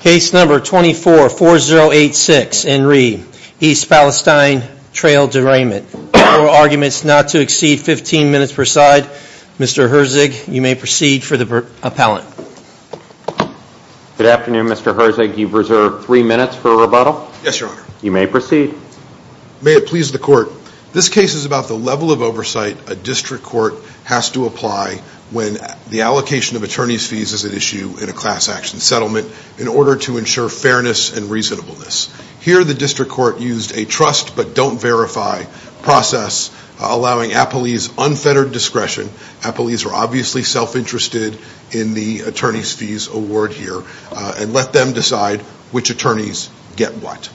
Case number 244086, Enri, East Palestine Trail Derailment. Arguments not to exceed 15 minutes per side. Mr. Herzig, you may proceed for the appellant. Good afternoon, Mr. Herzig. You've reserved three minutes for rebuttal. Yes, your honor. You may proceed. May it please the court. This case is about the level of oversight a district court has to apply when the allocation of attorney's fees is at issue in a class action settlement in order to ensure fairness and reasonableness. Here, the district court used a trust but don't verify process, allowing appellees unfettered discretion. Appellees are obviously self-interested in the attorney's fees award here, and let them decide which attorneys get what.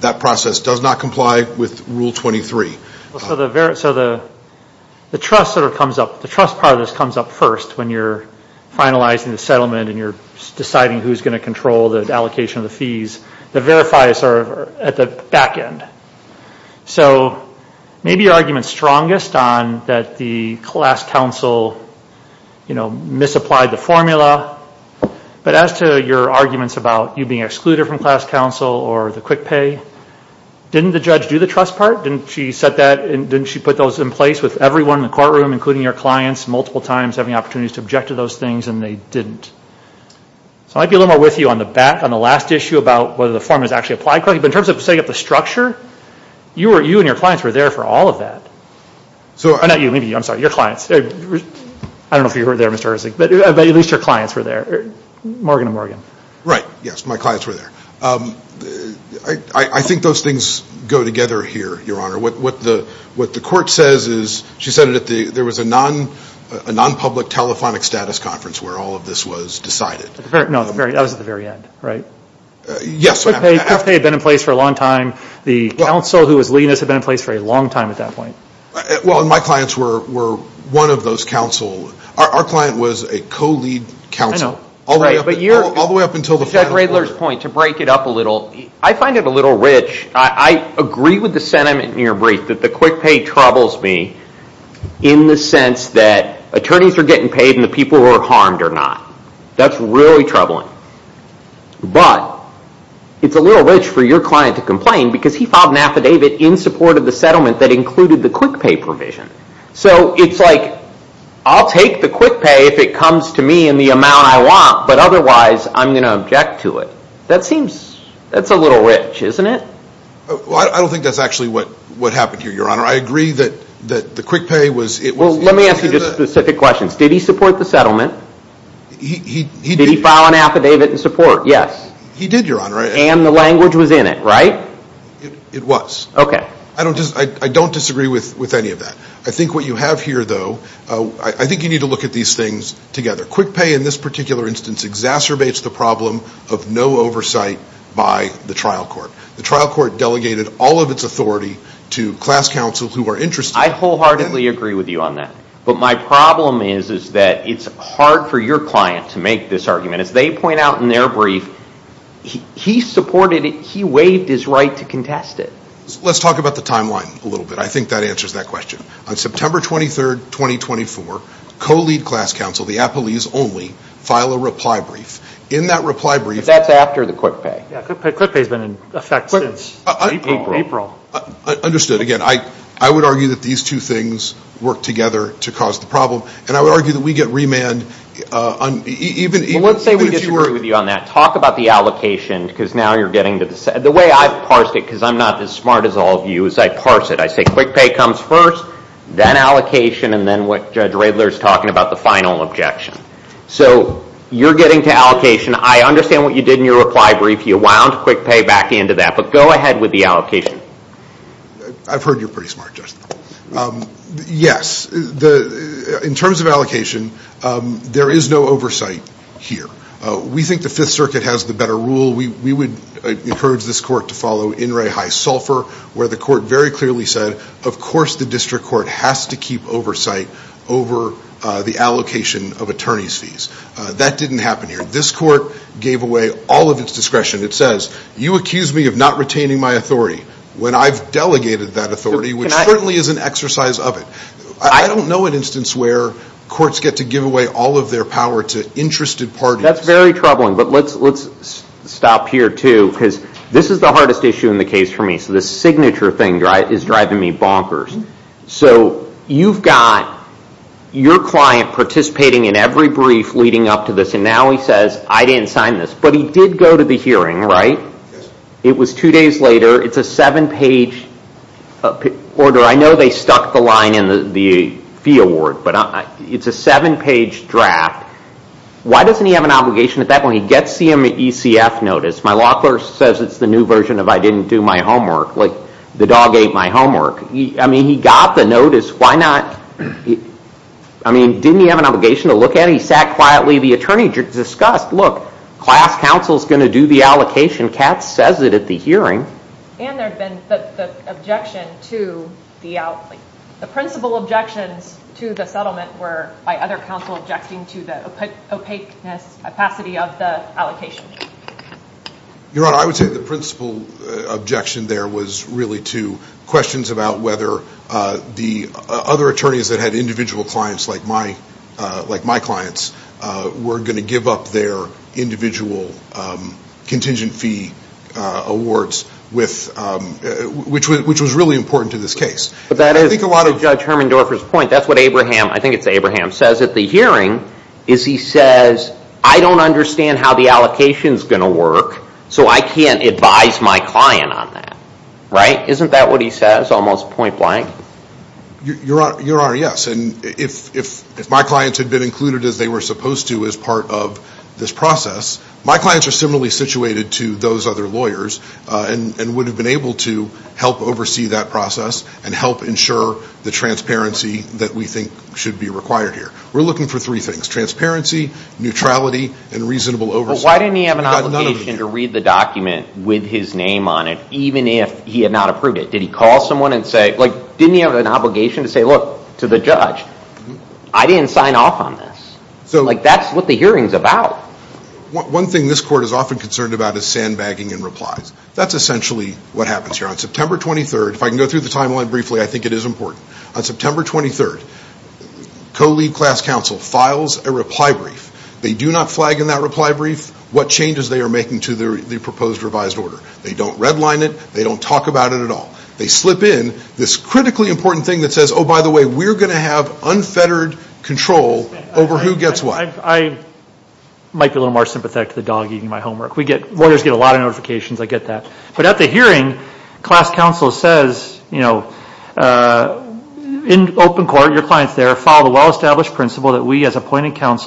That process does not comply with Rule 23. So the trust part of this comes up first when you're finalizing the settlement and you're deciding who's going to control the allocation of the fees. The verifiers are at the back end. So maybe your argument's strongest on that the class counsel misapplied the formula. But as to your arguments about you being excluded from class counsel or the quick pay, didn't the judge do the trust part? Didn't she put those in place with everyone in the courtroom, including your clients, multiple times having opportunities to object to those things, and they didn't? So I might be a little more with you on the last issue about whether the formula is actually applied correctly. But in terms of setting up the structure, you and your clients were there for all of that. Not you, maybe you. I'm sorry, your clients. I don't know if you were there, Mr. Herzig. But at least your clients were there, Morgan and Morgan. Right, yes, my clients were there. I think those things go together here, Your Honor. What the court says is, she said that there was a non-public telephonic status conference where all of this was decided. No, that was at the very end, right? Yes. Quick pay had been in place for a long time. The counsel who was leading this had been in place for a long time at that point. Well, and my clients were one of those counsel. Our client was a co-lead counsel all the way up until the final To break it up a little, I find it a little rich. I agree with the sentiment in your brief that the quick pay troubles me in the sense that attorneys are getting paid and the people who are harmed are not. That's really troubling. But it's a little rich for your client to complain because he filed an affidavit in support of the settlement that included the quick pay provision. So it's like, I'll take the quick pay if it comes to me in the amount I want. But otherwise, I'm going to object to it. That seems, that's a little rich, isn't it? Well, I don't think that's actually what happened here, Your Honor. I agree that the quick pay was, it was. Well, let me ask you just specific questions. Did he support the settlement? Did he file an affidavit in support? Yes. He did, Your Honor. And the language was in it, right? It was. OK. I don't disagree with any of that. I think what you have here, though, I think you need to look at these things together. Quick pay, in this particular instance, exacerbates the problem of no oversight by the trial court. The trial court delegated all of its authority to class counsel who are interested. I wholeheartedly agree with you on that. But my problem is, is that it's hard for your client to make this argument. As they point out in their brief, he supported it. He waived his right to contest it. Let's talk about the timeline a little bit. I think that answers that question. On September 23, 2024, co-lead class counsel, the appellees only, file a reply brief. In that reply brief. That's after the quick pay. Quick pay has been in effect since April. Understood. Again, I would argue that these two things work together to cause the problem. And I would argue that we get remand on even if you were. Well, let's say we disagree with you on that. Talk about the allocation, because now you're getting to the side. The way I've parsed it, because I'm not as smart as all of you, is I parse it. I say quick pay comes first, then allocation, and then what Judge Radler is talking about, the final objection. So you're getting to allocation. I understand what you did in your reply brief. You wound quick pay back into that. But go ahead with the allocation. I've heard you're pretty smart, Judge. Yes. In terms of allocation, there is no oversight here. We think the Fifth Circuit has the better rule. We would encourage this court to follow in re high sulfur, where the court very clearly said, of course, the district court has to keep oversight over the allocation of attorney's fees. That didn't happen here. This court gave away all of its discretion. It says, you accuse me of not retaining my authority, when I've delegated that authority, which certainly is an exercise of it. I don't know an instance where courts get to give away all of their power to interested parties. That's very troubling. But let's stop here, too, because this is the hardest issue in the case for me. So this signature thing is driving me bonkers. So you've got your client participating in every brief leading up to this. And now he says, I didn't sign this. But he did go to the hearing, right? It was two days later. It's a seven page order. I know they stuck the line in the fee award. But it's a seven page draft. Why doesn't he have an obligation at that point? He gets the ECF notice. My law clerk says it's the new version of I didn't do my homework. Like, the dog ate my homework. I mean, he got the notice. Why not? I mean, didn't he have an obligation to look at it? He sat quietly. The attorney discussed, look, class counsel is going to do the allocation. Katz says it at the hearing. And there had been the objection to the outlay. The principal objections to the settlement were by other counsel objecting to the opaqueness, opacity of the allocation. Your Honor, I would say the principal objection there was really to questions about whether the other attorneys that had individual clients like my clients were going to give up their individual contingent fee awards, which was really important to this case. But I think a lot of Judge Hermendorfer's point, that's what Abraham, I think it's Abraham, says at the hearing is he says, I don't understand how the allocation is going to work. So I can't advise my client on that, right? Isn't that what he says, almost point blank? Your Honor, yes. And if my clients had been included as they were supposed to as part of this process, my clients are similarly situated to those other lawyers and would have been able to help oversee that process and help ensure the transparency that we think should be required here. We're looking for three things, transparency, neutrality, and reasonable oversight. But why didn't he have an obligation to read the document with his name on it, even if he had not approved it? Did he call someone and say, didn't he have an obligation to say, look, to the judge, I didn't sign off on this? That's what the hearing's about. One thing this court is often concerned about is sandbagging and replies. That's essentially what happens here. On September 23, if I can go through the timeline briefly, I think it is important. On September 23, co-lead class counsel files a reply brief. They do not flag in that reply brief what changes they are making to the proposed revised order. They don't redline it. They don't talk about it at all. They slip in this critically important thing that says, oh, by the way, we're going to have unfettered control over who gets what. I might be a little more sympathetic to the dog eating my homework. Lawyers get a lot of notifications. I get that. But at the hearing, class counsel says, in open court, your client's there, follow the well-established principle that we, as appointed class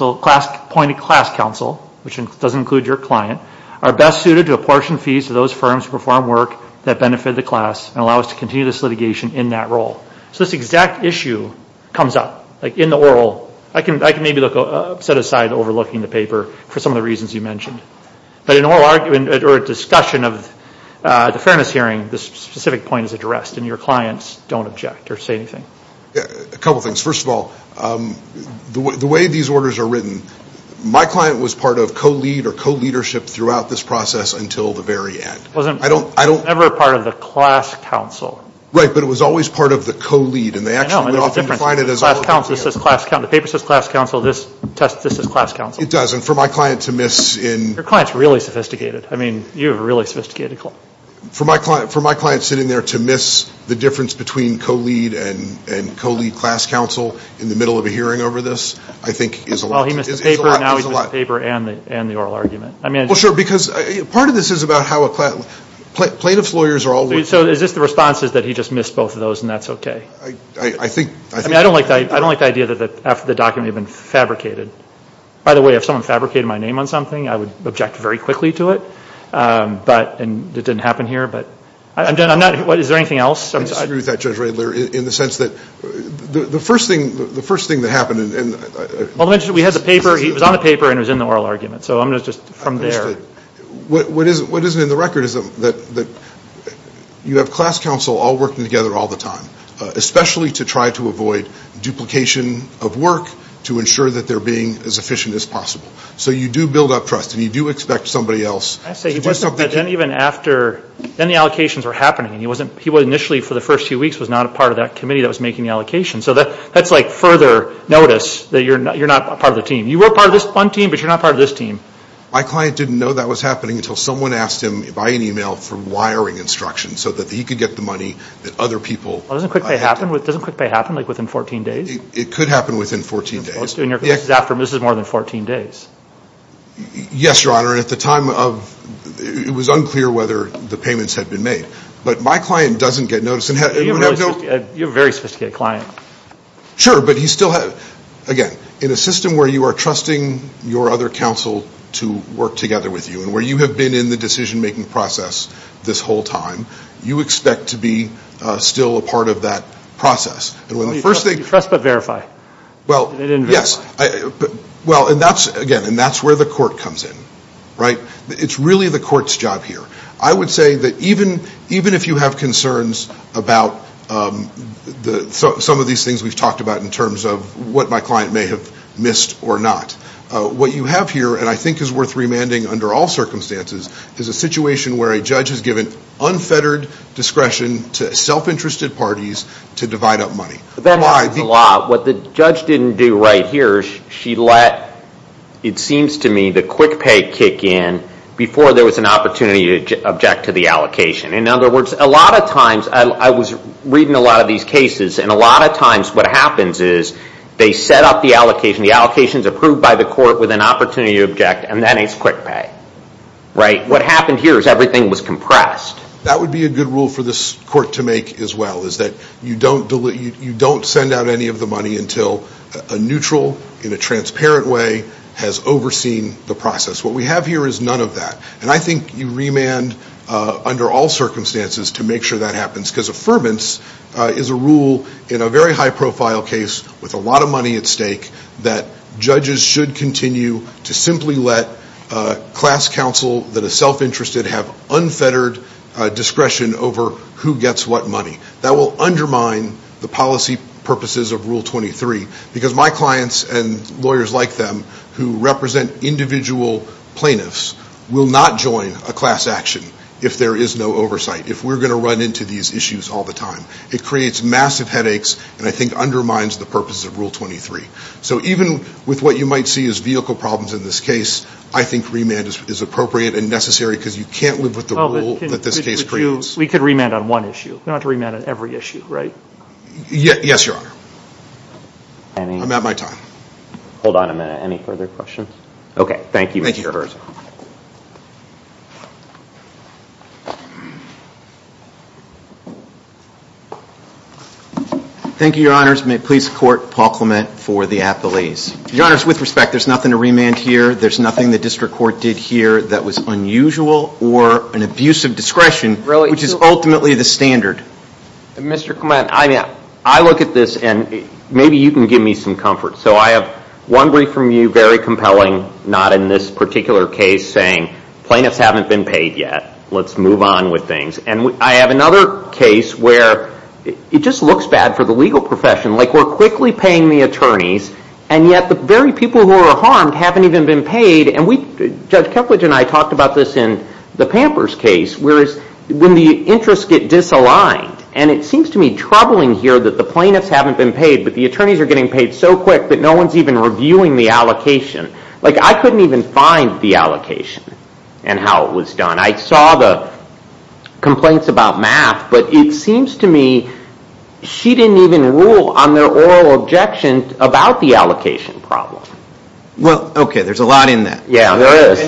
counsel, which doesn't include your client, are best suited to apportion fees to those firms who perform work that benefit the class and allow us to continue this litigation in that role. So this exact issue comes up in the oral. I can maybe set aside overlooking the paper for some of the reasons you mentioned. But in oral argument or discussion of the fairness hearing, this specific point is addressed, and your clients don't object or say anything. A couple of things. First of all, the way these orders are written, my client was part of co-lead or co-leadership throughout this process until the very end. It was never part of the class counsel. Right. But it was always part of the co-lead. And they actually often define it as a class counsel. The paper says class counsel. This is class counsel. It does. And for my client to miss in. Your client's really sophisticated. I mean, you have a really sophisticated client. For my client sitting there to miss the difference between co-lead and co-lead class counsel in the middle of a hearing over this, I think, is a lot. Well, he missed the paper. Now he's missed the paper and the oral argument. I mean, it's just. Well, sure. Part of this is about how plaintiff's lawyers are all. So is this the response is that he just missed both of those and that's OK? I think. I don't like the idea that after the document had been fabricated. By the way, if someone fabricated my name on something, I would object very quickly to it. And it didn't happen here. But I'm done. Is there anything else? I disagree with that, Judge Radler, in the sense that the first thing that happened. Well, we had the paper. He was on the paper and was in the oral argument. So I'm going to just, from there. What isn't in the record is that you have class counsel all working together all the time, especially to try to avoid duplication of work to ensure that they're being as efficient as possible. So you do build up trust. And you do expect somebody else. I say, even after, then the allocations were happening. He was initially, for the first few weeks, was not a part of that committee that was making the allocation. So that's like further notice that you're not a part of the team. You were part of this one team. But you're not part of this team. My client didn't know that was happening until someone asked him by an email for wiring instructions so that he could get the money that other people had. Doesn't quick pay happen? Doesn't quick pay happen within 14 days? It could happen within 14 days. In your case, this is more than 14 days. Yes, Your Honor. At the time of, it was unclear whether the payments had been made. But my client doesn't get notice. You're a very sophisticated client. Sure, but he still had, again, in a system where you are trusting your other counsel to work together with you, and where you have been in the decision-making process this whole time, you expect to be still a part of that process. And when the first thing. You trust but verify. Well, yes. Well, and that's, again, and that's where the court comes in. It's really the court's job here. I would say that even if you have concerns about some of these things we've talked about in terms of what my client may have missed or not, what you have here, and I think is worth remanding under all circumstances, is a situation where a judge has given unfettered discretion to self-interested parties to divide up money. That matters a lot. What the judge didn't do right here, she let, it seems to me, the quick pay kick in before there was an opportunity to object to the allocation. In other words, a lot of times, I was reading a lot of these cases, and a lot of times what happens is they set up the allocation. The allocation is approved by the court with an opportunity to object, and then it's quick pay. What happened here is everything was compressed. That would be a good rule for this court to make as well, is that you don't send out any of the money until a neutral, in a transparent way, has overseen the process. What we have here is none of that. And I think you remand under all circumstances to make sure that happens. Because affirmance is a rule in a very high profile case with a lot of money at stake that judges should continue to simply let a class counsel that is self-interested have unfettered discretion over who gets what money. That will undermine the policy purposes of Rule 23, because my clients and lawyers like them who represent individual plaintiffs will not join a class action if there is no oversight, if we're going to run into these issues all the time. It creates massive headaches, and I think undermines the purposes of Rule 23. So even with what you might see as vehicle problems in this case, I think remand is appropriate and necessary, because you can't live with the rule that this case creates. We could remand on one issue. We don't have to remand on every issue, right? Yes, Your Honor. I'm at my time. Hold on a minute. Any further questions? OK, thank you, Mr. Herzog. Thank you. Thank you, Your Honors. May it please the Court, Paul Clement for the appellees. Your Honors, with respect, there's nothing to remand here. There's nothing the district court did here that was unusual or an abuse of discretion, which is ultimately the standard. Mr. Clement, I look at this, and maybe you can give me some comfort. So I have one brief from you, very compelling, not in this particular case, saying plaintiffs haven't been paid yet. Let's move on with things. And I'm not going to give you an answer. And I have another case where it just looks bad for the legal profession. Like, we're quickly paying the attorneys, and yet the very people who are harmed haven't even been paid. And Judge Kepledge and I talked about this in the Pampers case, where is when the interests get disaligned. And it seems to me troubling here that the plaintiffs haven't been paid, but the attorneys are getting paid so quick that no one's even reviewing the allocation. Like, I couldn't even find the allocation and how it was done. I saw the complaints about math, but it seems to me she didn't even rule on their oral objection about the allocation problem. Well, OK, there's a lot in that. Yeah, there is.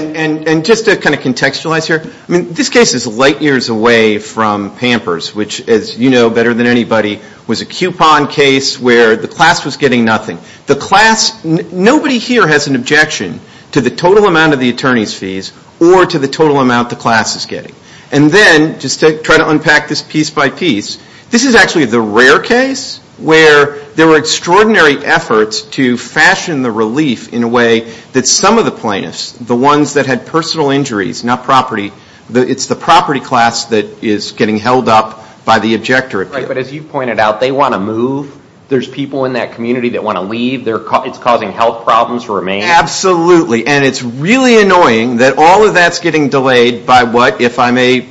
And just to kind of contextualize here, this case is light years away from Pampers, which, as you know better than anybody, was a coupon case where the class was getting nothing. The class, nobody here has an objection to the total amount of the attorney's fees or to the total amount the class is getting. And then, just to try to unpack this piece by piece, this is actually the rare case where there were extraordinary efforts to fashion the relief in a way that some of the plaintiffs, the ones that had personal injuries, not property, it's the property class that is getting held up by the objector. But as you pointed out, they want to move. There's people in that community that want to leave. It's causing health problems for a man. Absolutely. And it's really annoying that all of that's getting delayed by what, if I may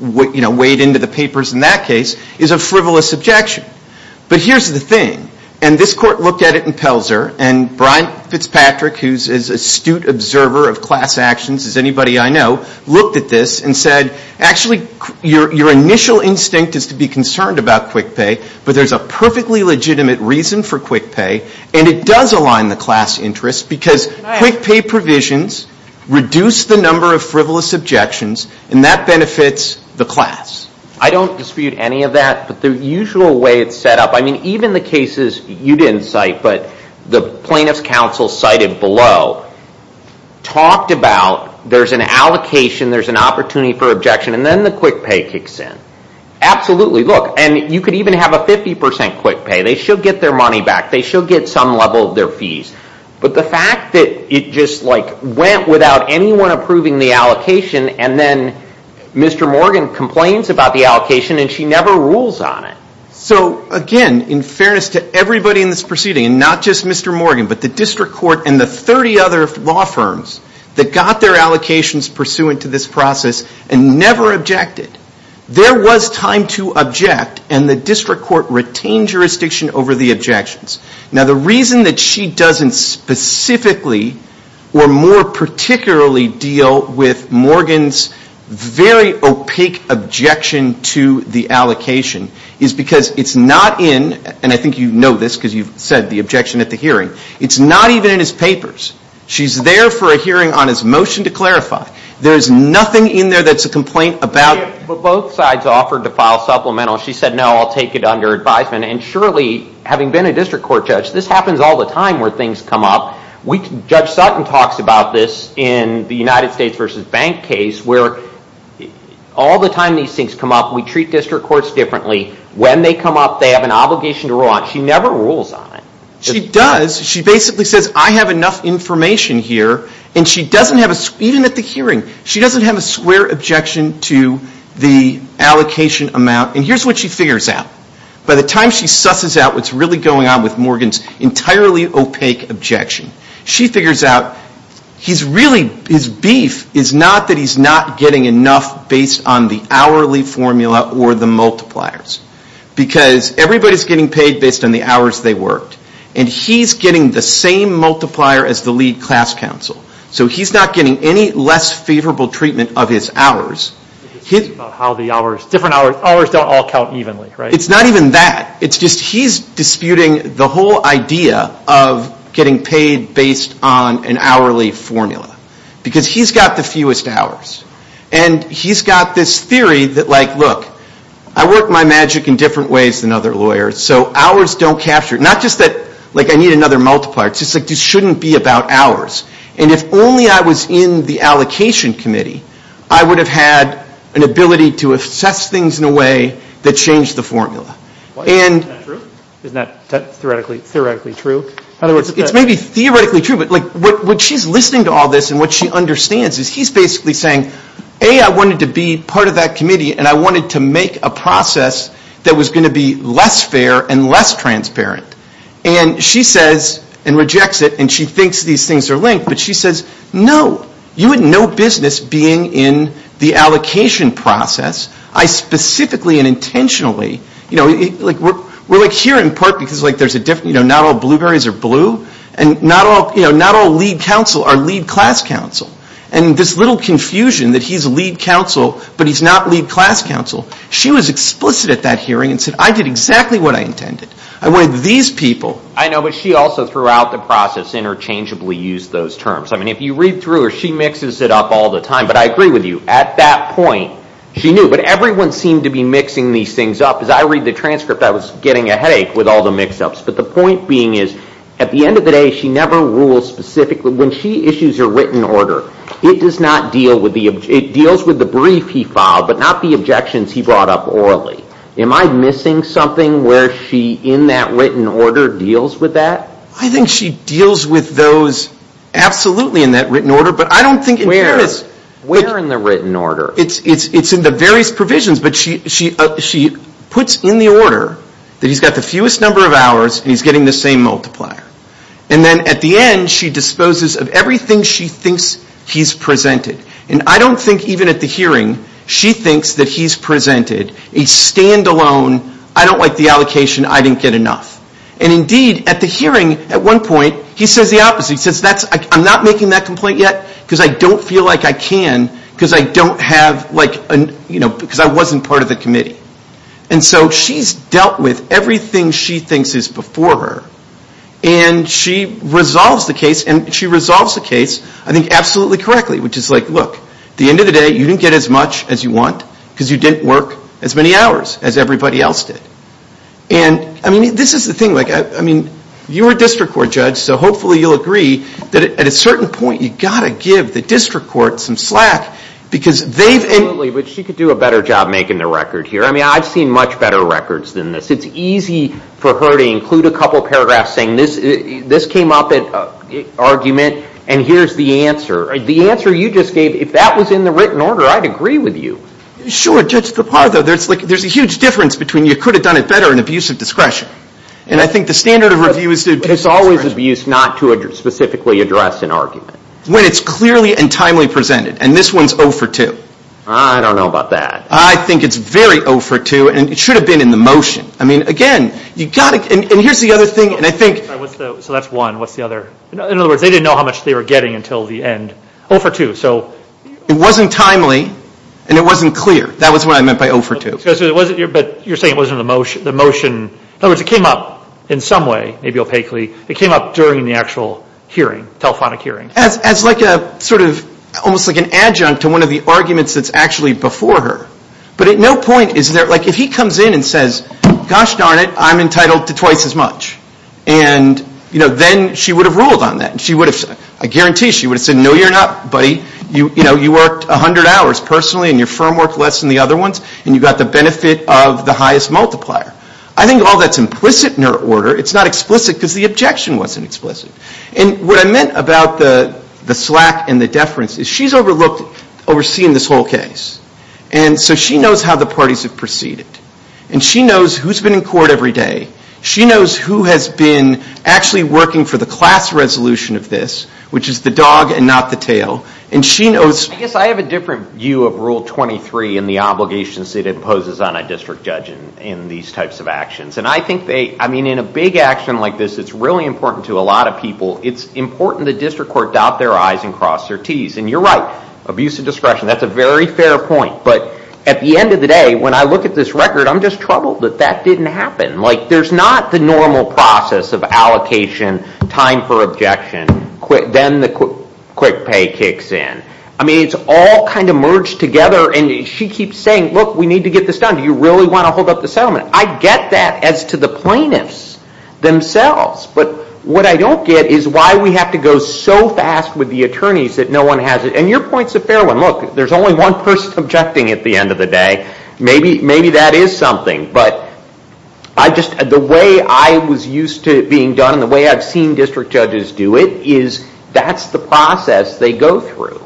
wade into the papers in that case, is a frivolous objection. But here's the thing. And this court looked at it in Pelzer. And Brian Fitzpatrick, who is an astute observer of class actions, as anybody I know, looked at this and said, actually, your initial instinct is to be concerned about quick pay. But there's a perfectly legitimate reason for quick pay. And it does align the class interest because quick pay provisions reduce the number of frivolous objections. And that benefits the class. I don't dispute any of that. But the usual way it's set up, I mean, even the cases you didn't cite, but the plaintiff's counsel cited below, talked about there's an allocation, there's an opportunity for objection, and then the quick pay kicks in. Absolutely, look. And you could even have a 50% quick pay. They should get their money back. They should get some level of their fees. But the fact that it just went without anyone approving the allocation, and then Mr. Morgan complains about the allocation, and she never rules on it. So again, in fairness to everybody in this proceeding, and not just Mr. Morgan, but the district court and the 30 other law firms that got their allocations pursuant to this process and never objected, there was time to object. And the district court retained jurisdiction over the objections. Now, the reason that she doesn't specifically or more particularly deal with Morgan's very opaque objection to the allocation is because it's not in, and I think you know this because you've said the objection at the hearing, it's not even in his papers. She's there for a hearing on his motion to clarify. There's nothing in there that's a complaint about. But both sides offered to file supplemental. She said, no, I'll take it under advisement. And surely, having been a district court judge, this happens all the time where things come up. Judge Sutton talks about this in the United States versus Bank case, where all the time these things come up, we treat district courts differently. When they come up, they have an obligation to rule on it. She never rules on it. She does. She basically says, I have enough information here. And she doesn't have a, even at the hearing, she doesn't have a square objection to the allocation amount. And here's what she figures out. By the time she susses out what's really going on with Morgan's entirely opaque objection, she figures out his beef is not that he's not getting enough based on the hourly formula or the multipliers. Because everybody's getting paid based on the hours they worked. And he's getting the same multiplier as the lead class counsel. So he's not getting any less favorable treatment of his hours. It's just about how the hours, different hours, hours don't all count evenly, right? It's not even that. It's just he's disputing the whole idea of getting paid based on an hourly formula. Because he's got the fewest hours. And he's got this theory that, look, I work my magic in different ways than other lawyers. So hours don't capture. Not just that I need another multiplier. It's just that this shouldn't be about hours. And if only I was in the allocation committee, I would have had an ability to assess things in a way that changed the formula. And Isn't that true? Isn't that theoretically true? It's maybe theoretically true. But what she's listening to all this and what she understands is he's basically saying, A, I wanted to be part of that committee. And I wanted to make a process that was going to be less fair and less transparent. And she says and rejects it. And she thinks these things are linked. But she says, no. You had no business being in the allocation process. I specifically and intentionally, we're here in part because not all blueberries are blue. And not all lead counsel are lead class counsel. And this little confusion that he's a lead counsel, but he's not lead class counsel, she was explicit at that hearing and said, I did exactly what I intended. I wanted these people. I know, but she also, throughout the process, interchangeably used those terms. I mean, if you read through her, she mixes it up all the time. But I agree with you. At that point, she knew. But everyone seemed to be mixing these things up. As I read the transcript, I was getting a headache with all the mix-ups. But the point being is, at the end of the day, she never rules specifically. When she issues a written order, it does not deal with the brief he filed, but not the objections he brought up orally. Am I missing something where she, in that written order, deals with that? I think she deals with those absolutely in that written order. But I don't think in here it's. Where in the written order? It's in the various provisions. But she puts in the order that he's got the fewest number of hours, and he's getting the same multiplier. And then, at the end, she disposes of everything she thinks he's presented. And I don't think, even at the hearing, she thinks that he's presented a standalone, I don't like the allocation, I didn't get enough. And indeed, at the hearing, at one point, he says the opposite. He says, I'm not making that complaint yet because I don't feel like I can because I don't have, because I wasn't part of the committee. And so she's dealt with everything she thinks is before her. And she resolves the case. And she resolves the case, I think, absolutely correctly. Which is like, look, at the end of the day, you didn't get as much as you want because you didn't work as many hours as everybody else did. And I mean, this is the thing. I mean, you're a district court judge, so hopefully you'll agree that at a certain point, you've got to give the district court some slack because they've been. Absolutely, but she could do a better job making the record here. I mean, I've seen much better records than this. It's easy for her to include a couple paragraphs saying, this came up in an argument, and here's the answer. The answer you just gave, if that was in the written order, I'd agree with you. Sure, Judge DeParlo, there's a huge difference between you could have done it better in abuse of discretion. And I think the standard of review is to abuse discretion. But it's always abuse not to specifically address an argument. When it's clearly and timely presented. And this one's 0 for 2. I don't know about that. I think it's very 0 for 2. And it should have been in the motion. I mean, again, you've got to, and here's the other thing, and I think. So that's one. What's the other? In other words, they didn't know how much they were getting until the end. 0 for 2, so. It wasn't timely, and it wasn't clear. That was what I meant by 0 for 2. But you're saying it wasn't in the motion. In other words, it came up in some way, maybe opaquely. It came up during the actual hearing, telephonic hearing. As like a sort of, almost like an adjunct to one of the arguments that's actually before her. But at no point is there, like if he comes in and says, gosh darn it, I'm entitled to twice as much. And then she would have ruled on that. And she would have said, I guarantee, she would have said, no you're not, buddy. You worked 100 hours personally, and your firm worked less than the other ones, and you got the benefit of the highest multiplier. I think all that's implicit in her order. It's not explicit because the objection wasn't explicit. And what I meant about the slack and the deference is she's overseen this whole case. And so she knows how the parties have proceeded. And she knows who's been in court every day. She knows who has been actually working for the class resolution of this, which is the dog and not the tail. And she knows. I guess I have a different view of Rule 23 and the obligations it imposes on a district judge in these types of actions. And I think they, I mean in a big action like this, it's really important to a lot of people. It's important the district court dot their I's and cross their T's. And you're right. Abuse of discretion, that's a very fair point. But at the end of the day, when I look at this record, I'm just troubled that that didn't happen. Like there's not the normal process of allocation, time for objection, then the quick pay kicks in. I mean, it's all kind of merged together. And she keeps saying, look, we need to get this done. Do you really want to hold up the settlement? I get that as to the plaintiffs themselves. But what I don't get is why we have to go so fast with the attorneys that no one has it. And your point's a fair one. Look, there's only one person objecting at the end of the day. Maybe that is something. But the way I was used to it being done, the way I've seen district judges do it, is that's the process they go through.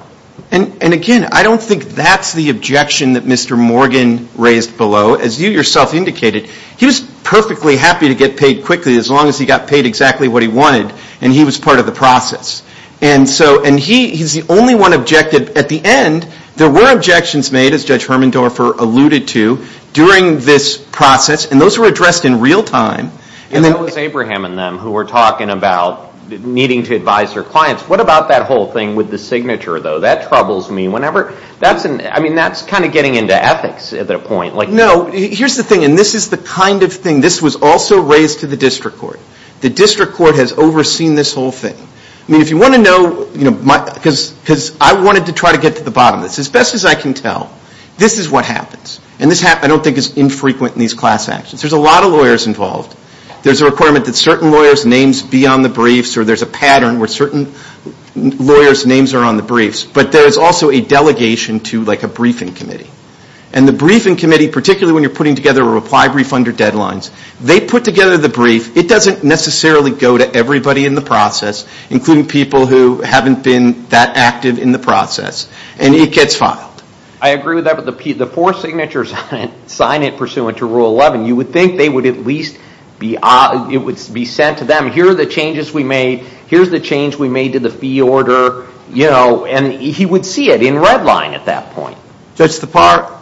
And again, I don't think that's the objection that Mr. Morgan raised below. As you yourself indicated, he was perfectly happy to get paid quickly, as long as he got paid exactly what he wanted and he was part of the process. And so he's the only one objected at the end. There were objections made, as Judge Hermendorfer alluded to, during this process. And those were addressed in real time. And that was Abraham and them, who were talking about needing to advise their clients. What about that whole thing with the signature, though? That troubles me whenever. I mean, that's kind of getting into ethics at that point. No, here's the thing. And this is the kind of thing. This was also raised to the district court. The district court has overseen this whole thing. I mean, if you want to know, because I wanted to try to get to the bottom of this. As best as I can tell, this is what happens. And this, I don't think, is infrequent in these class actions. There's a lot of lawyers involved. There's a requirement that certain lawyers' names be on the briefs, or there's a pattern where certain lawyers' names are on the briefs. But there is also a delegation to a briefing committee. And the briefing committee, particularly when you're putting together a reply brief under deadlines, they put together the brief. It doesn't necessarily go to everybody in the process, including people who haven't been that active in the process. And it gets filed. I agree with that. But the four signatures on it, sign it pursuant to Rule 11, you would think they would at least be sent to them. Here are the changes we made. Here's the change we made to the fee order. And he would see it in red line at that point. Judge Tapar,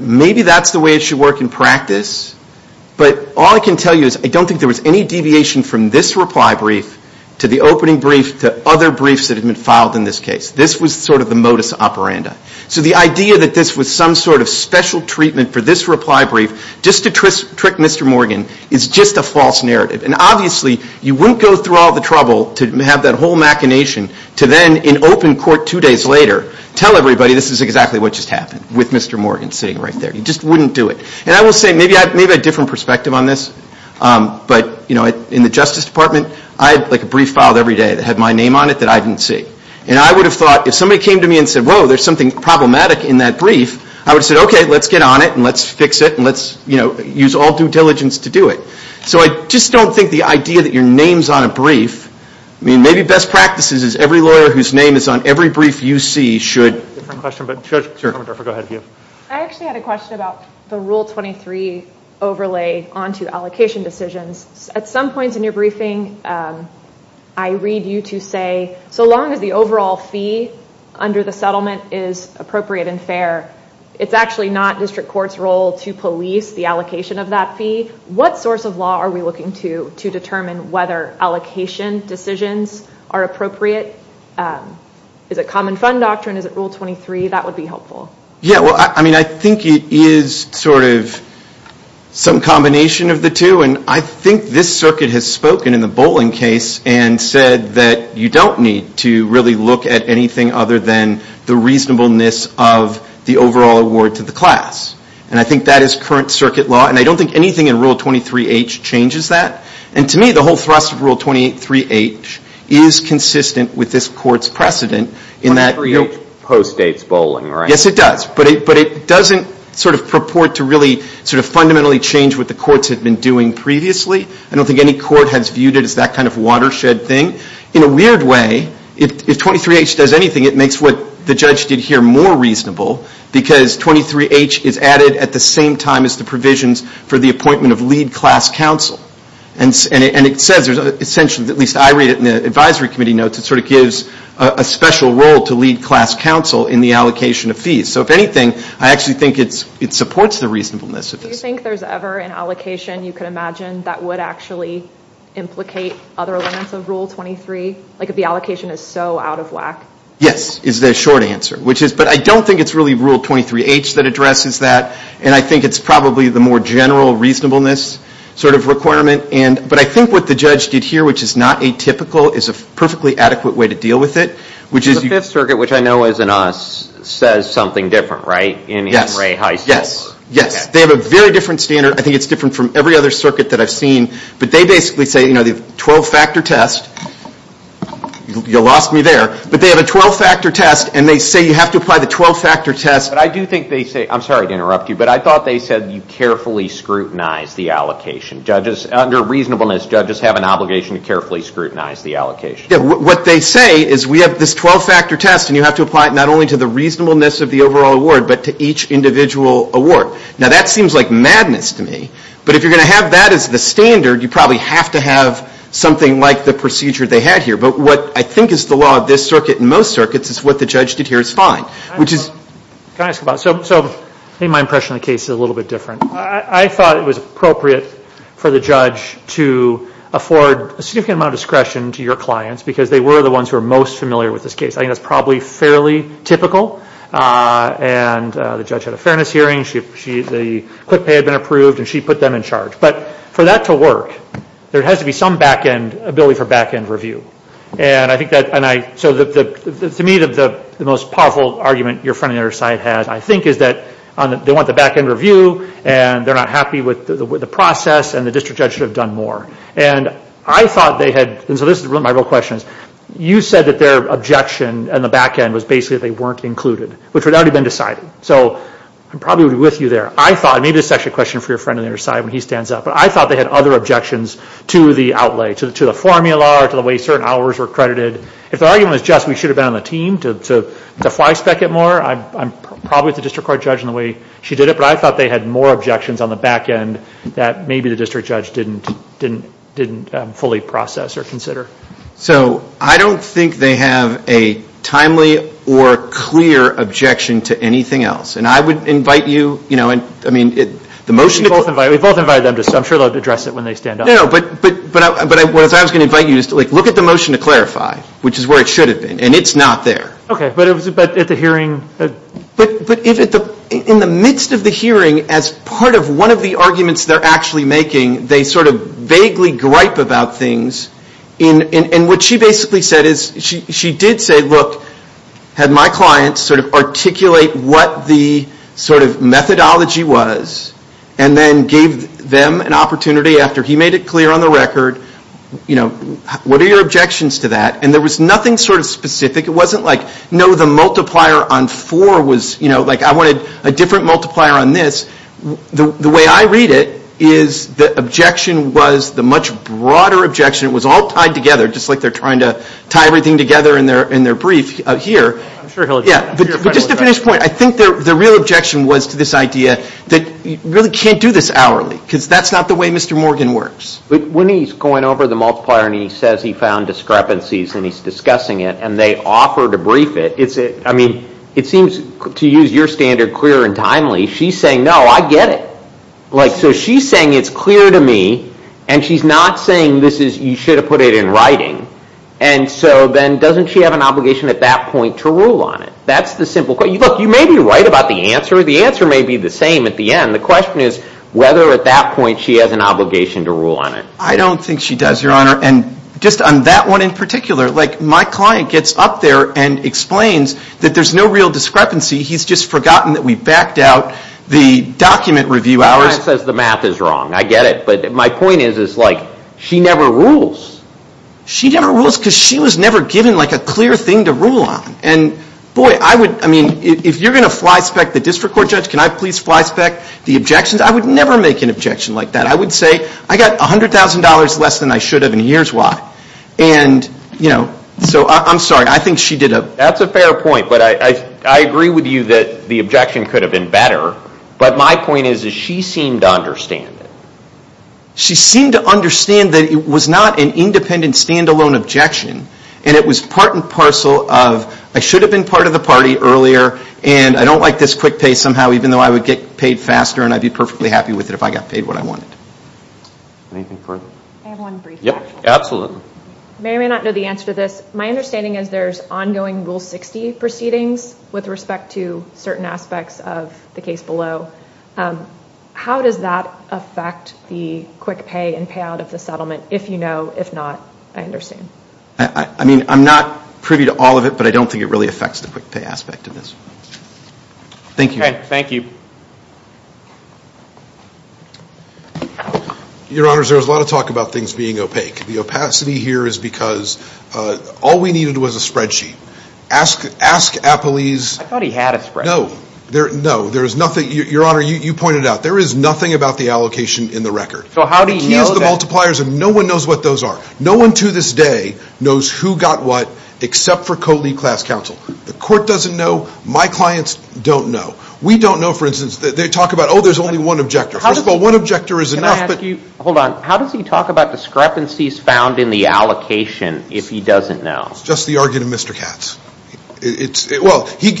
maybe that's the way it should work in practice. But all I can tell you is I don't think there was any deviation from this reply brief to the opening brief to other briefs that had been filed in this case. This was sort of the modus operandi. So the idea that this was some sort of special treatment for this reply brief, just to trick Mr. Morgan, is just a false narrative. And obviously, you wouldn't go through all the trouble to have that whole machination to then, in open court two days later, tell everybody this is exactly what just happened with Mr. Morgan sitting right there. You just wouldn't do it. And I will say, maybe I have a different perspective on this. But in the Justice Department, I had a brief filed every day that had my name on it that I didn't see. And I would have thought, if somebody came to me and said, whoa, there's something problematic in that brief, I would have said, OK, let's get on it, and let's fix it, and let's use all due diligence to do it. So I just don't think the idea that your name's on a brief, I mean, maybe best practices is every lawyer whose name is on every brief you see should. Different question, but Judge Kornbluffer, go ahead. I actually had a question about the Rule 23 overlay onto allocation decisions. At some points in your briefing, I read you to say, so long as the overall fee under the settlement is appropriate and fair, it's actually not district court's role to police the allocation of that fee. What source of law are we looking to determine whether allocation decisions are appropriate? Is it common fund doctrine? Is it Rule 23? That would be helpful. Yeah, well, I mean, I think it is sort of some combination of the two. And I think this circuit has spoken in the Boling case and said that you don't need to really look at anything other than the reasonableness of the overall award to the class. And I think that is current circuit law. And I don't think anything in Rule 23H changes that. And to me, the whole thrust of Rule 23H is consistent with this court's precedent in that, you know. Rule 23H postdates Boling, right? Yes, it does. But it doesn't sort of purport to really sort of fundamentally change what the courts have been doing previously. I don't think any court has viewed it as that kind of watershed thing. In a weird way, if 23H does anything, it makes what the judge did here more reasonable. Because 23H is added at the same time as the provisions for the appointment of lead class counsel. And it says there's essentially, at least I read it in the advisory committee notes, it sort of gives a special role to lead class counsel in the allocation of fees. So if anything, I actually think it supports the reasonableness of this. Do you think there's ever an allocation you could imagine that would actually implicate other elements of Rule 23? Like if the allocation is so out of whack? Yes, is the short answer. But I don't think it's really Rule 23H that addresses that. And I think it's probably the more general reasonableness sort of requirement. But I think what the judge did here, which is not atypical, is a perfectly adequate way to deal with it. The Fifth Circuit, which I know isn't us, says something different, right? In Henry High School. Yes. They have a very different standard. I think it's different from every other circuit that I've seen. But they basically say, you know, the 12-factor test. You lost me there. But they have a 12-factor test. And they say you have to apply the 12-factor test. But I do think they say, I'm sorry to interrupt you, but I thought they said you carefully scrutinize the allocation. Under reasonableness, judges have an obligation to carefully scrutinize the allocation. Yeah, what they say is we have this 12-factor test. And you have to apply it not only to the reasonableness of the overall award, but to each individual award. Now, that seems like madness to me. But if you're going to have that as the standard, you probably have to have something like the procedure they had here. But what I think is the law of this circuit and most circuits is what the judge did here is fine, which is. Can I ask about it? So I think my impression of the case is a little bit different. I thought it was appropriate for the judge to afford a significant amount of discretion to your clients because they were the ones who are most familiar with this case. I think that's probably fairly typical. And the judge had a fairness hearing. The quick pay had been approved. And she put them in charge. But for that to work, there has to be some ability for back-end review. And I think that, to me, the most powerful argument your friend on the other side has, I think, is that they want the back-end review. And they're not happy with the process. And the district judge should have done more. And I thought they had, and so this is really my real question is, you said that their objection on the back-end was basically that they weren't included, which had already been decided. So I'm probably with you there. I thought, maybe this is actually a question for your friend on the other side when he stands up, but I thought they had other objections to the outlay, to the formula, to the way certain hours were credited. If the argument was just we should have been on the team to fly spec it more, I'm probably with the district court judge in the way she did it. But I thought they had more objections on the back-end that maybe the district judge didn't fully process or consider. So I don't think they have a timely or clear objection to anything else. And I would invite you, I mean, the motion to We both invited them to, so I'm sure they'll address it when they stand up. No, but what I was going to invite you to do is to look at the motion to clarify, which is where it should have been. And it's not there. OK, but at the hearing? But in the midst of the hearing, as part of one of the arguments they're actually making, they sort of vaguely gripe about things. And what she basically said is, she did say, look, had my clients articulate what the methodology was, and then gave them an opportunity after he made it clear on the record, what are your objections to that? And there was nothing specific. It wasn't like, no, the multiplier on four was, you know, like I wanted a different multiplier on this. The way I read it is the objection was the much broader objection. It was all tied together, just like they're trying to tie everything together in their brief here. I'm sure he'll address that. Just to finish point, I think the real objection was to this idea that you really can't do this hourly, because that's not the way Mr. Morgan works. When he's going over the multiplier, and he says he found discrepancies, and he's discussing it, and they offer to brief it, I mean, it seems, to use your standard, clear and timely. She's saying, no, I get it. Like, so she's saying it's clear to me, and she's not saying this is, you should have put it in writing. And so then, doesn't she have an obligation at that point to rule on it? That's the simple question. You may be right about the answer. The answer may be the same at the end. The question is whether at that point she has an obligation to rule on it. I don't think she does, Your Honor. And just on that one in particular, like, my client gets up there and explains that there's no real discrepancy. He's just forgotten that we backed out the document review hours. Your client says the math is wrong. I get it. But my point is, it's like, she never rules. She never rules, because she was never given, like, a clear thing to rule on. And boy, I would, I mean, if you're going to flyspeck the district court judge, can I please flyspeck the objections? I would never make an objection like that. I would say, I got $100,000 less than I should have, and here's why. And, you know, so I'm sorry. I think she did a. That's a fair point, but I agree with you that the objection could have been better. But my point is that she seemed to understand it. She seemed to understand that it was not an independent, standalone objection. And it was part and parcel of, I should have been part of the party earlier, and I don't like this quick pay somehow, even though I would get paid faster, and I'd be perfectly happy with it if I got paid what I wanted. Anything further? I have one brief question. Yep, absolutely. May or may not know the answer to this. My understanding is there's ongoing Rule 60 proceedings with respect to certain aspects of the case below. How does that affect the quick pay and payout of the settlement? If you know, if not, I understand. I mean, I'm not privy to all of it, but I don't think it really affects the quick pay aspect of this. Thank you. Thank you. Your Honors, there's a lot of talk about things being opaque. The opacity here is because all we needed was a spreadsheet. Ask Applees. I thought he had a spreadsheet. No. No, there is nothing. Your Honor, you pointed out, there is nothing about the allocation in the record. So how do you know that? The key is the multipliers, and no one knows what those are. No one to this day knows who got what, except for Coley Class Counsel. The court doesn't know. My clients don't know. We don't know, for instance, what they talk about, oh, there's only one objector. First of all, one objector is enough. Hold on. How does he talk about discrepancies found in the allocation if he doesn't know? It's just the argument of Mr. Katz. Well, he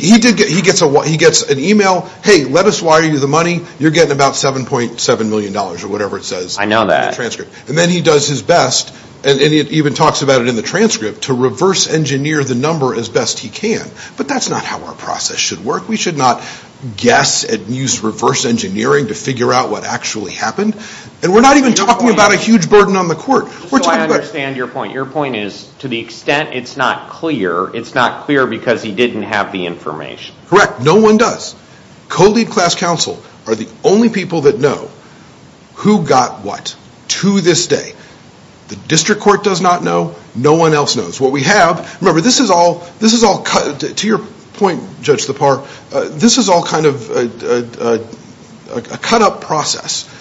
gets an email. Hey, let us wire you the money. You're getting about $7.7 million or whatever it says in the transcript. I know that. And then he does his best, and it even talks about it in the transcript, to reverse engineer the number as best he can. But that's not how our process should work. We should not guess and use reverse engineering to figure out what actually happened. And we're not even talking about a huge burden on the court. So I understand your point. Your point is, to the extent it's not clear, it's not clear because he didn't have the information. Correct. No one does. Coley Class Counsel are the only people that know who got what, to this day. The district court does not know. No one else knows. What we have, remember, this is all, to your point, Judge Lepar, this is all kind of a cut-up process.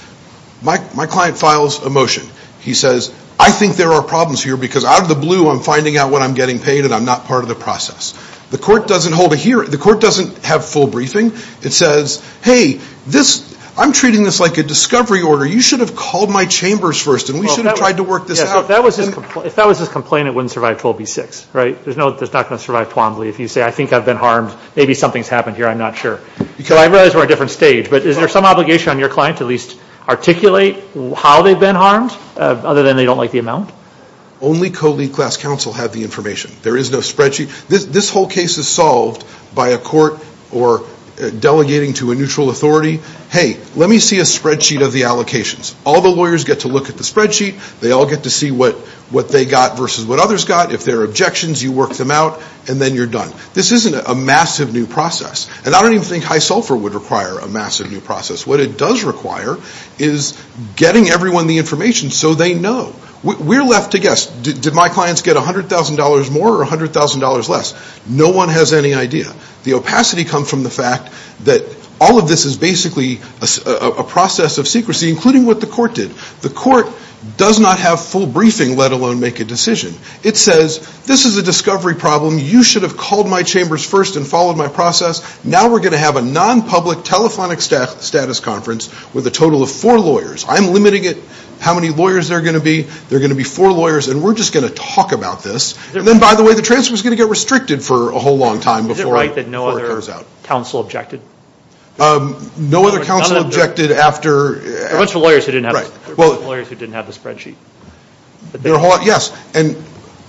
My client files a motion. He says, I think there are problems here, because out of the blue, I'm finding out what I'm getting paid, and I'm not part of the process. The court doesn't hold a hearing. The court doesn't have full briefing. It says, hey, I'm treating this like a discovery order. You should have called my chambers first, and we should have tried to work this out. If that was his complaint, it wouldn't survive 12B6. There's not going to survive Twombly. If you say, I think I've been harmed, maybe something's happened here, I'm not sure. I realize we're on a different stage, but is there some obligation on your client to at least articulate how they've been harmed, other than they don't like the amount? Only Coley Class Counsel have the information. There is no spreadsheet. This whole case is solved by a court delegating to a neutral authority, hey, let me see a spreadsheet of the allocations. All the lawyers get to look at the spreadsheet. They all get to see what they got versus what others got. If there are objections, you work them out, and then you're done. This isn't a massive new process. And I don't even think high sulfur would require a massive new process. What it does require is getting everyone the information so they know. We're left to guess, did my clients get $100,000 more or $100,000 less? No one has any idea. The opacity comes from the fact that all of this is basically a process of secrecy, including what the court did. The court does not have full briefing, let alone make a decision. It says, this is a discovery problem. You should have called my chambers first and followed my process. Now we're going to have a non-public telephonic status conference with a total of four lawyers. I'm limiting it how many lawyers there are going to be. There are going to be four lawyers, and we're just going to talk about this. And then, by the way, the transfer is going to get restricted for a whole long time before it carries out. Is it right that no other counsel objected? No other counsel objected after. There were a bunch of lawyers who didn't have the spreadsheet. There are a whole lot, yes. And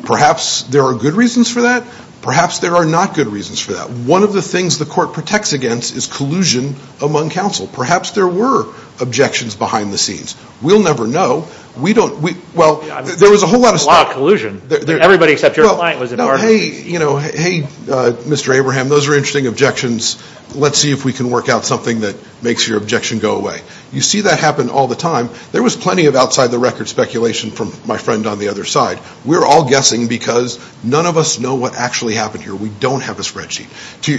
perhaps there are good reasons for that. Perhaps there are not good reasons for that. One of the things the court protects against is collusion among counsel. Perhaps there were objections behind the scenes. We'll never know. We don't, well, there was a whole lot of stuff. A lot of collusion. Everybody except your client was a part of it. Hey, you know, hey, Mr. Abraham, those are interesting objections. Let's see if we can work out something that makes your objection go away. You see that happen all the time. There was plenty of outside-the-record speculation from my friend on the other side. We're all guessing because none of us know what actually happened here. We don't have a spreadsheet.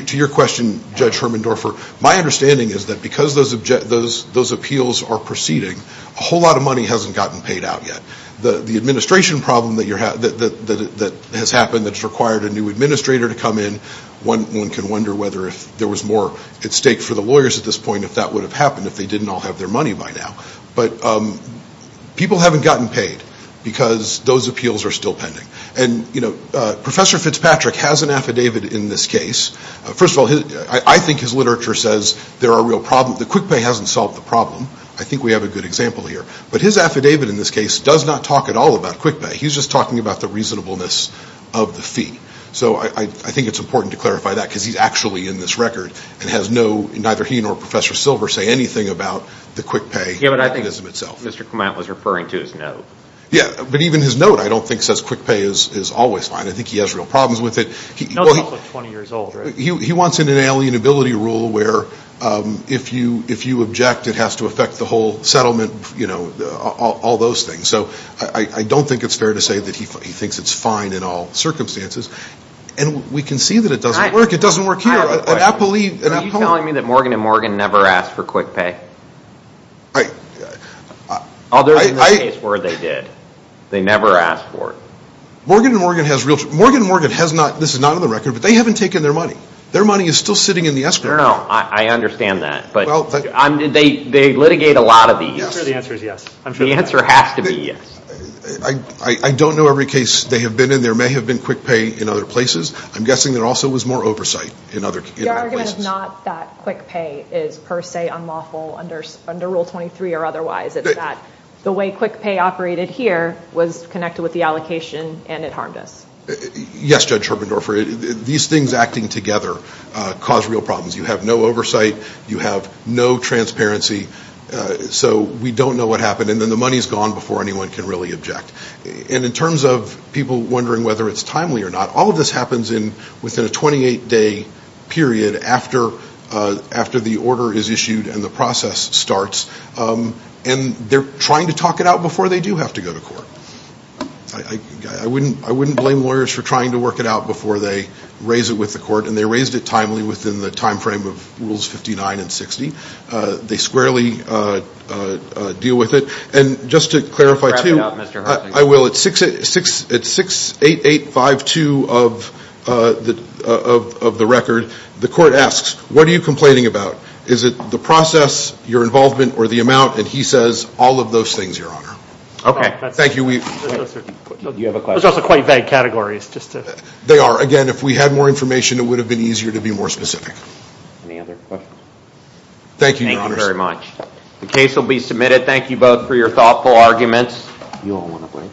To your question, Judge Hermendorfer, my understanding is that because those appeals are proceeding, a whole lot of money hasn't gotten paid out yet. The administration problem that has happened that's required a new administrator to come in, one can wonder whether if there was more at stake for the lawyers at this point, if that would have happened if they didn't all have their money by now. But people haven't gotten paid because those appeals are still pending. And Professor Fitzpatrick has an affidavit in this case. First of all, I think his literature says there are real problems. The quick pay hasn't solved the problem. I think we have a good example here. But his affidavit in this case does not talk at all about quick pay. He's just talking about the reasonableness of the fee. So I think it's important to clarify that because he's actually in this record and neither he nor Professor Silver say anything about the quick pay. Yeah, but I think Mr. Clement was referring to his note. Yeah, but even his note I don't think says quick pay is always fine. I think he has real problems with it. He's also 20 years old, right? He wants an inalienability rule where if you object, it has to affect the whole settlement, all those things. So I don't think it's fair to say that he thinks it's fine in all circumstances. And we can see that it doesn't work. It doesn't work here. Are you telling me that Morgan & Morgan never asked for quick pay? I... Oh, there's a case where they did. They never asked for it. Morgan & Morgan has real... Morgan & Morgan has not, this is not on the record, but they haven't taken their money. Their money is still sitting in the escrow. No, I understand that. But they litigate a lot of these. I'm sure the answer is yes. I'm sure the answer has to be yes. I don't know every case they have been in. There may have been quick pay in other places. I'm guessing there also was more oversight in other places. Your argument is not that quick pay is per se unlawful under rule 23 or otherwise. It's that the way quick pay operated here was connected with the allocation and it harmed us. Yes, Judge Herbendorfer. These things acting together cause real problems. You have no oversight. You have no transparency. So we don't know what happened. And then the money's gone before anyone can really object. And in terms of people wondering whether it's timely or not, all of this happens within a 28-day period after the order is issued and the process starts. And they're trying to talk it out before they do have to go to court. I wouldn't blame lawyers for trying to work it out before they raise it with the court. And they raised it timely within the time frame of rules 59 and 60. They squarely deal with it. And just to clarify, too, I will, at 68852 of the record, the court asks, what are you complaining about? Is it the process, your involvement, or the amount? And he says, all of those things, Your Honor. OK. Thank you. Do you have a question? Those are quite vague categories, just to. They are. Again, if we had more information, it would have been easier to be more specific. Any other questions? Thank you, Your Honor. Thank you very much. The case will be submitted. Thank you both for your thoughtful arguments. You all want a break?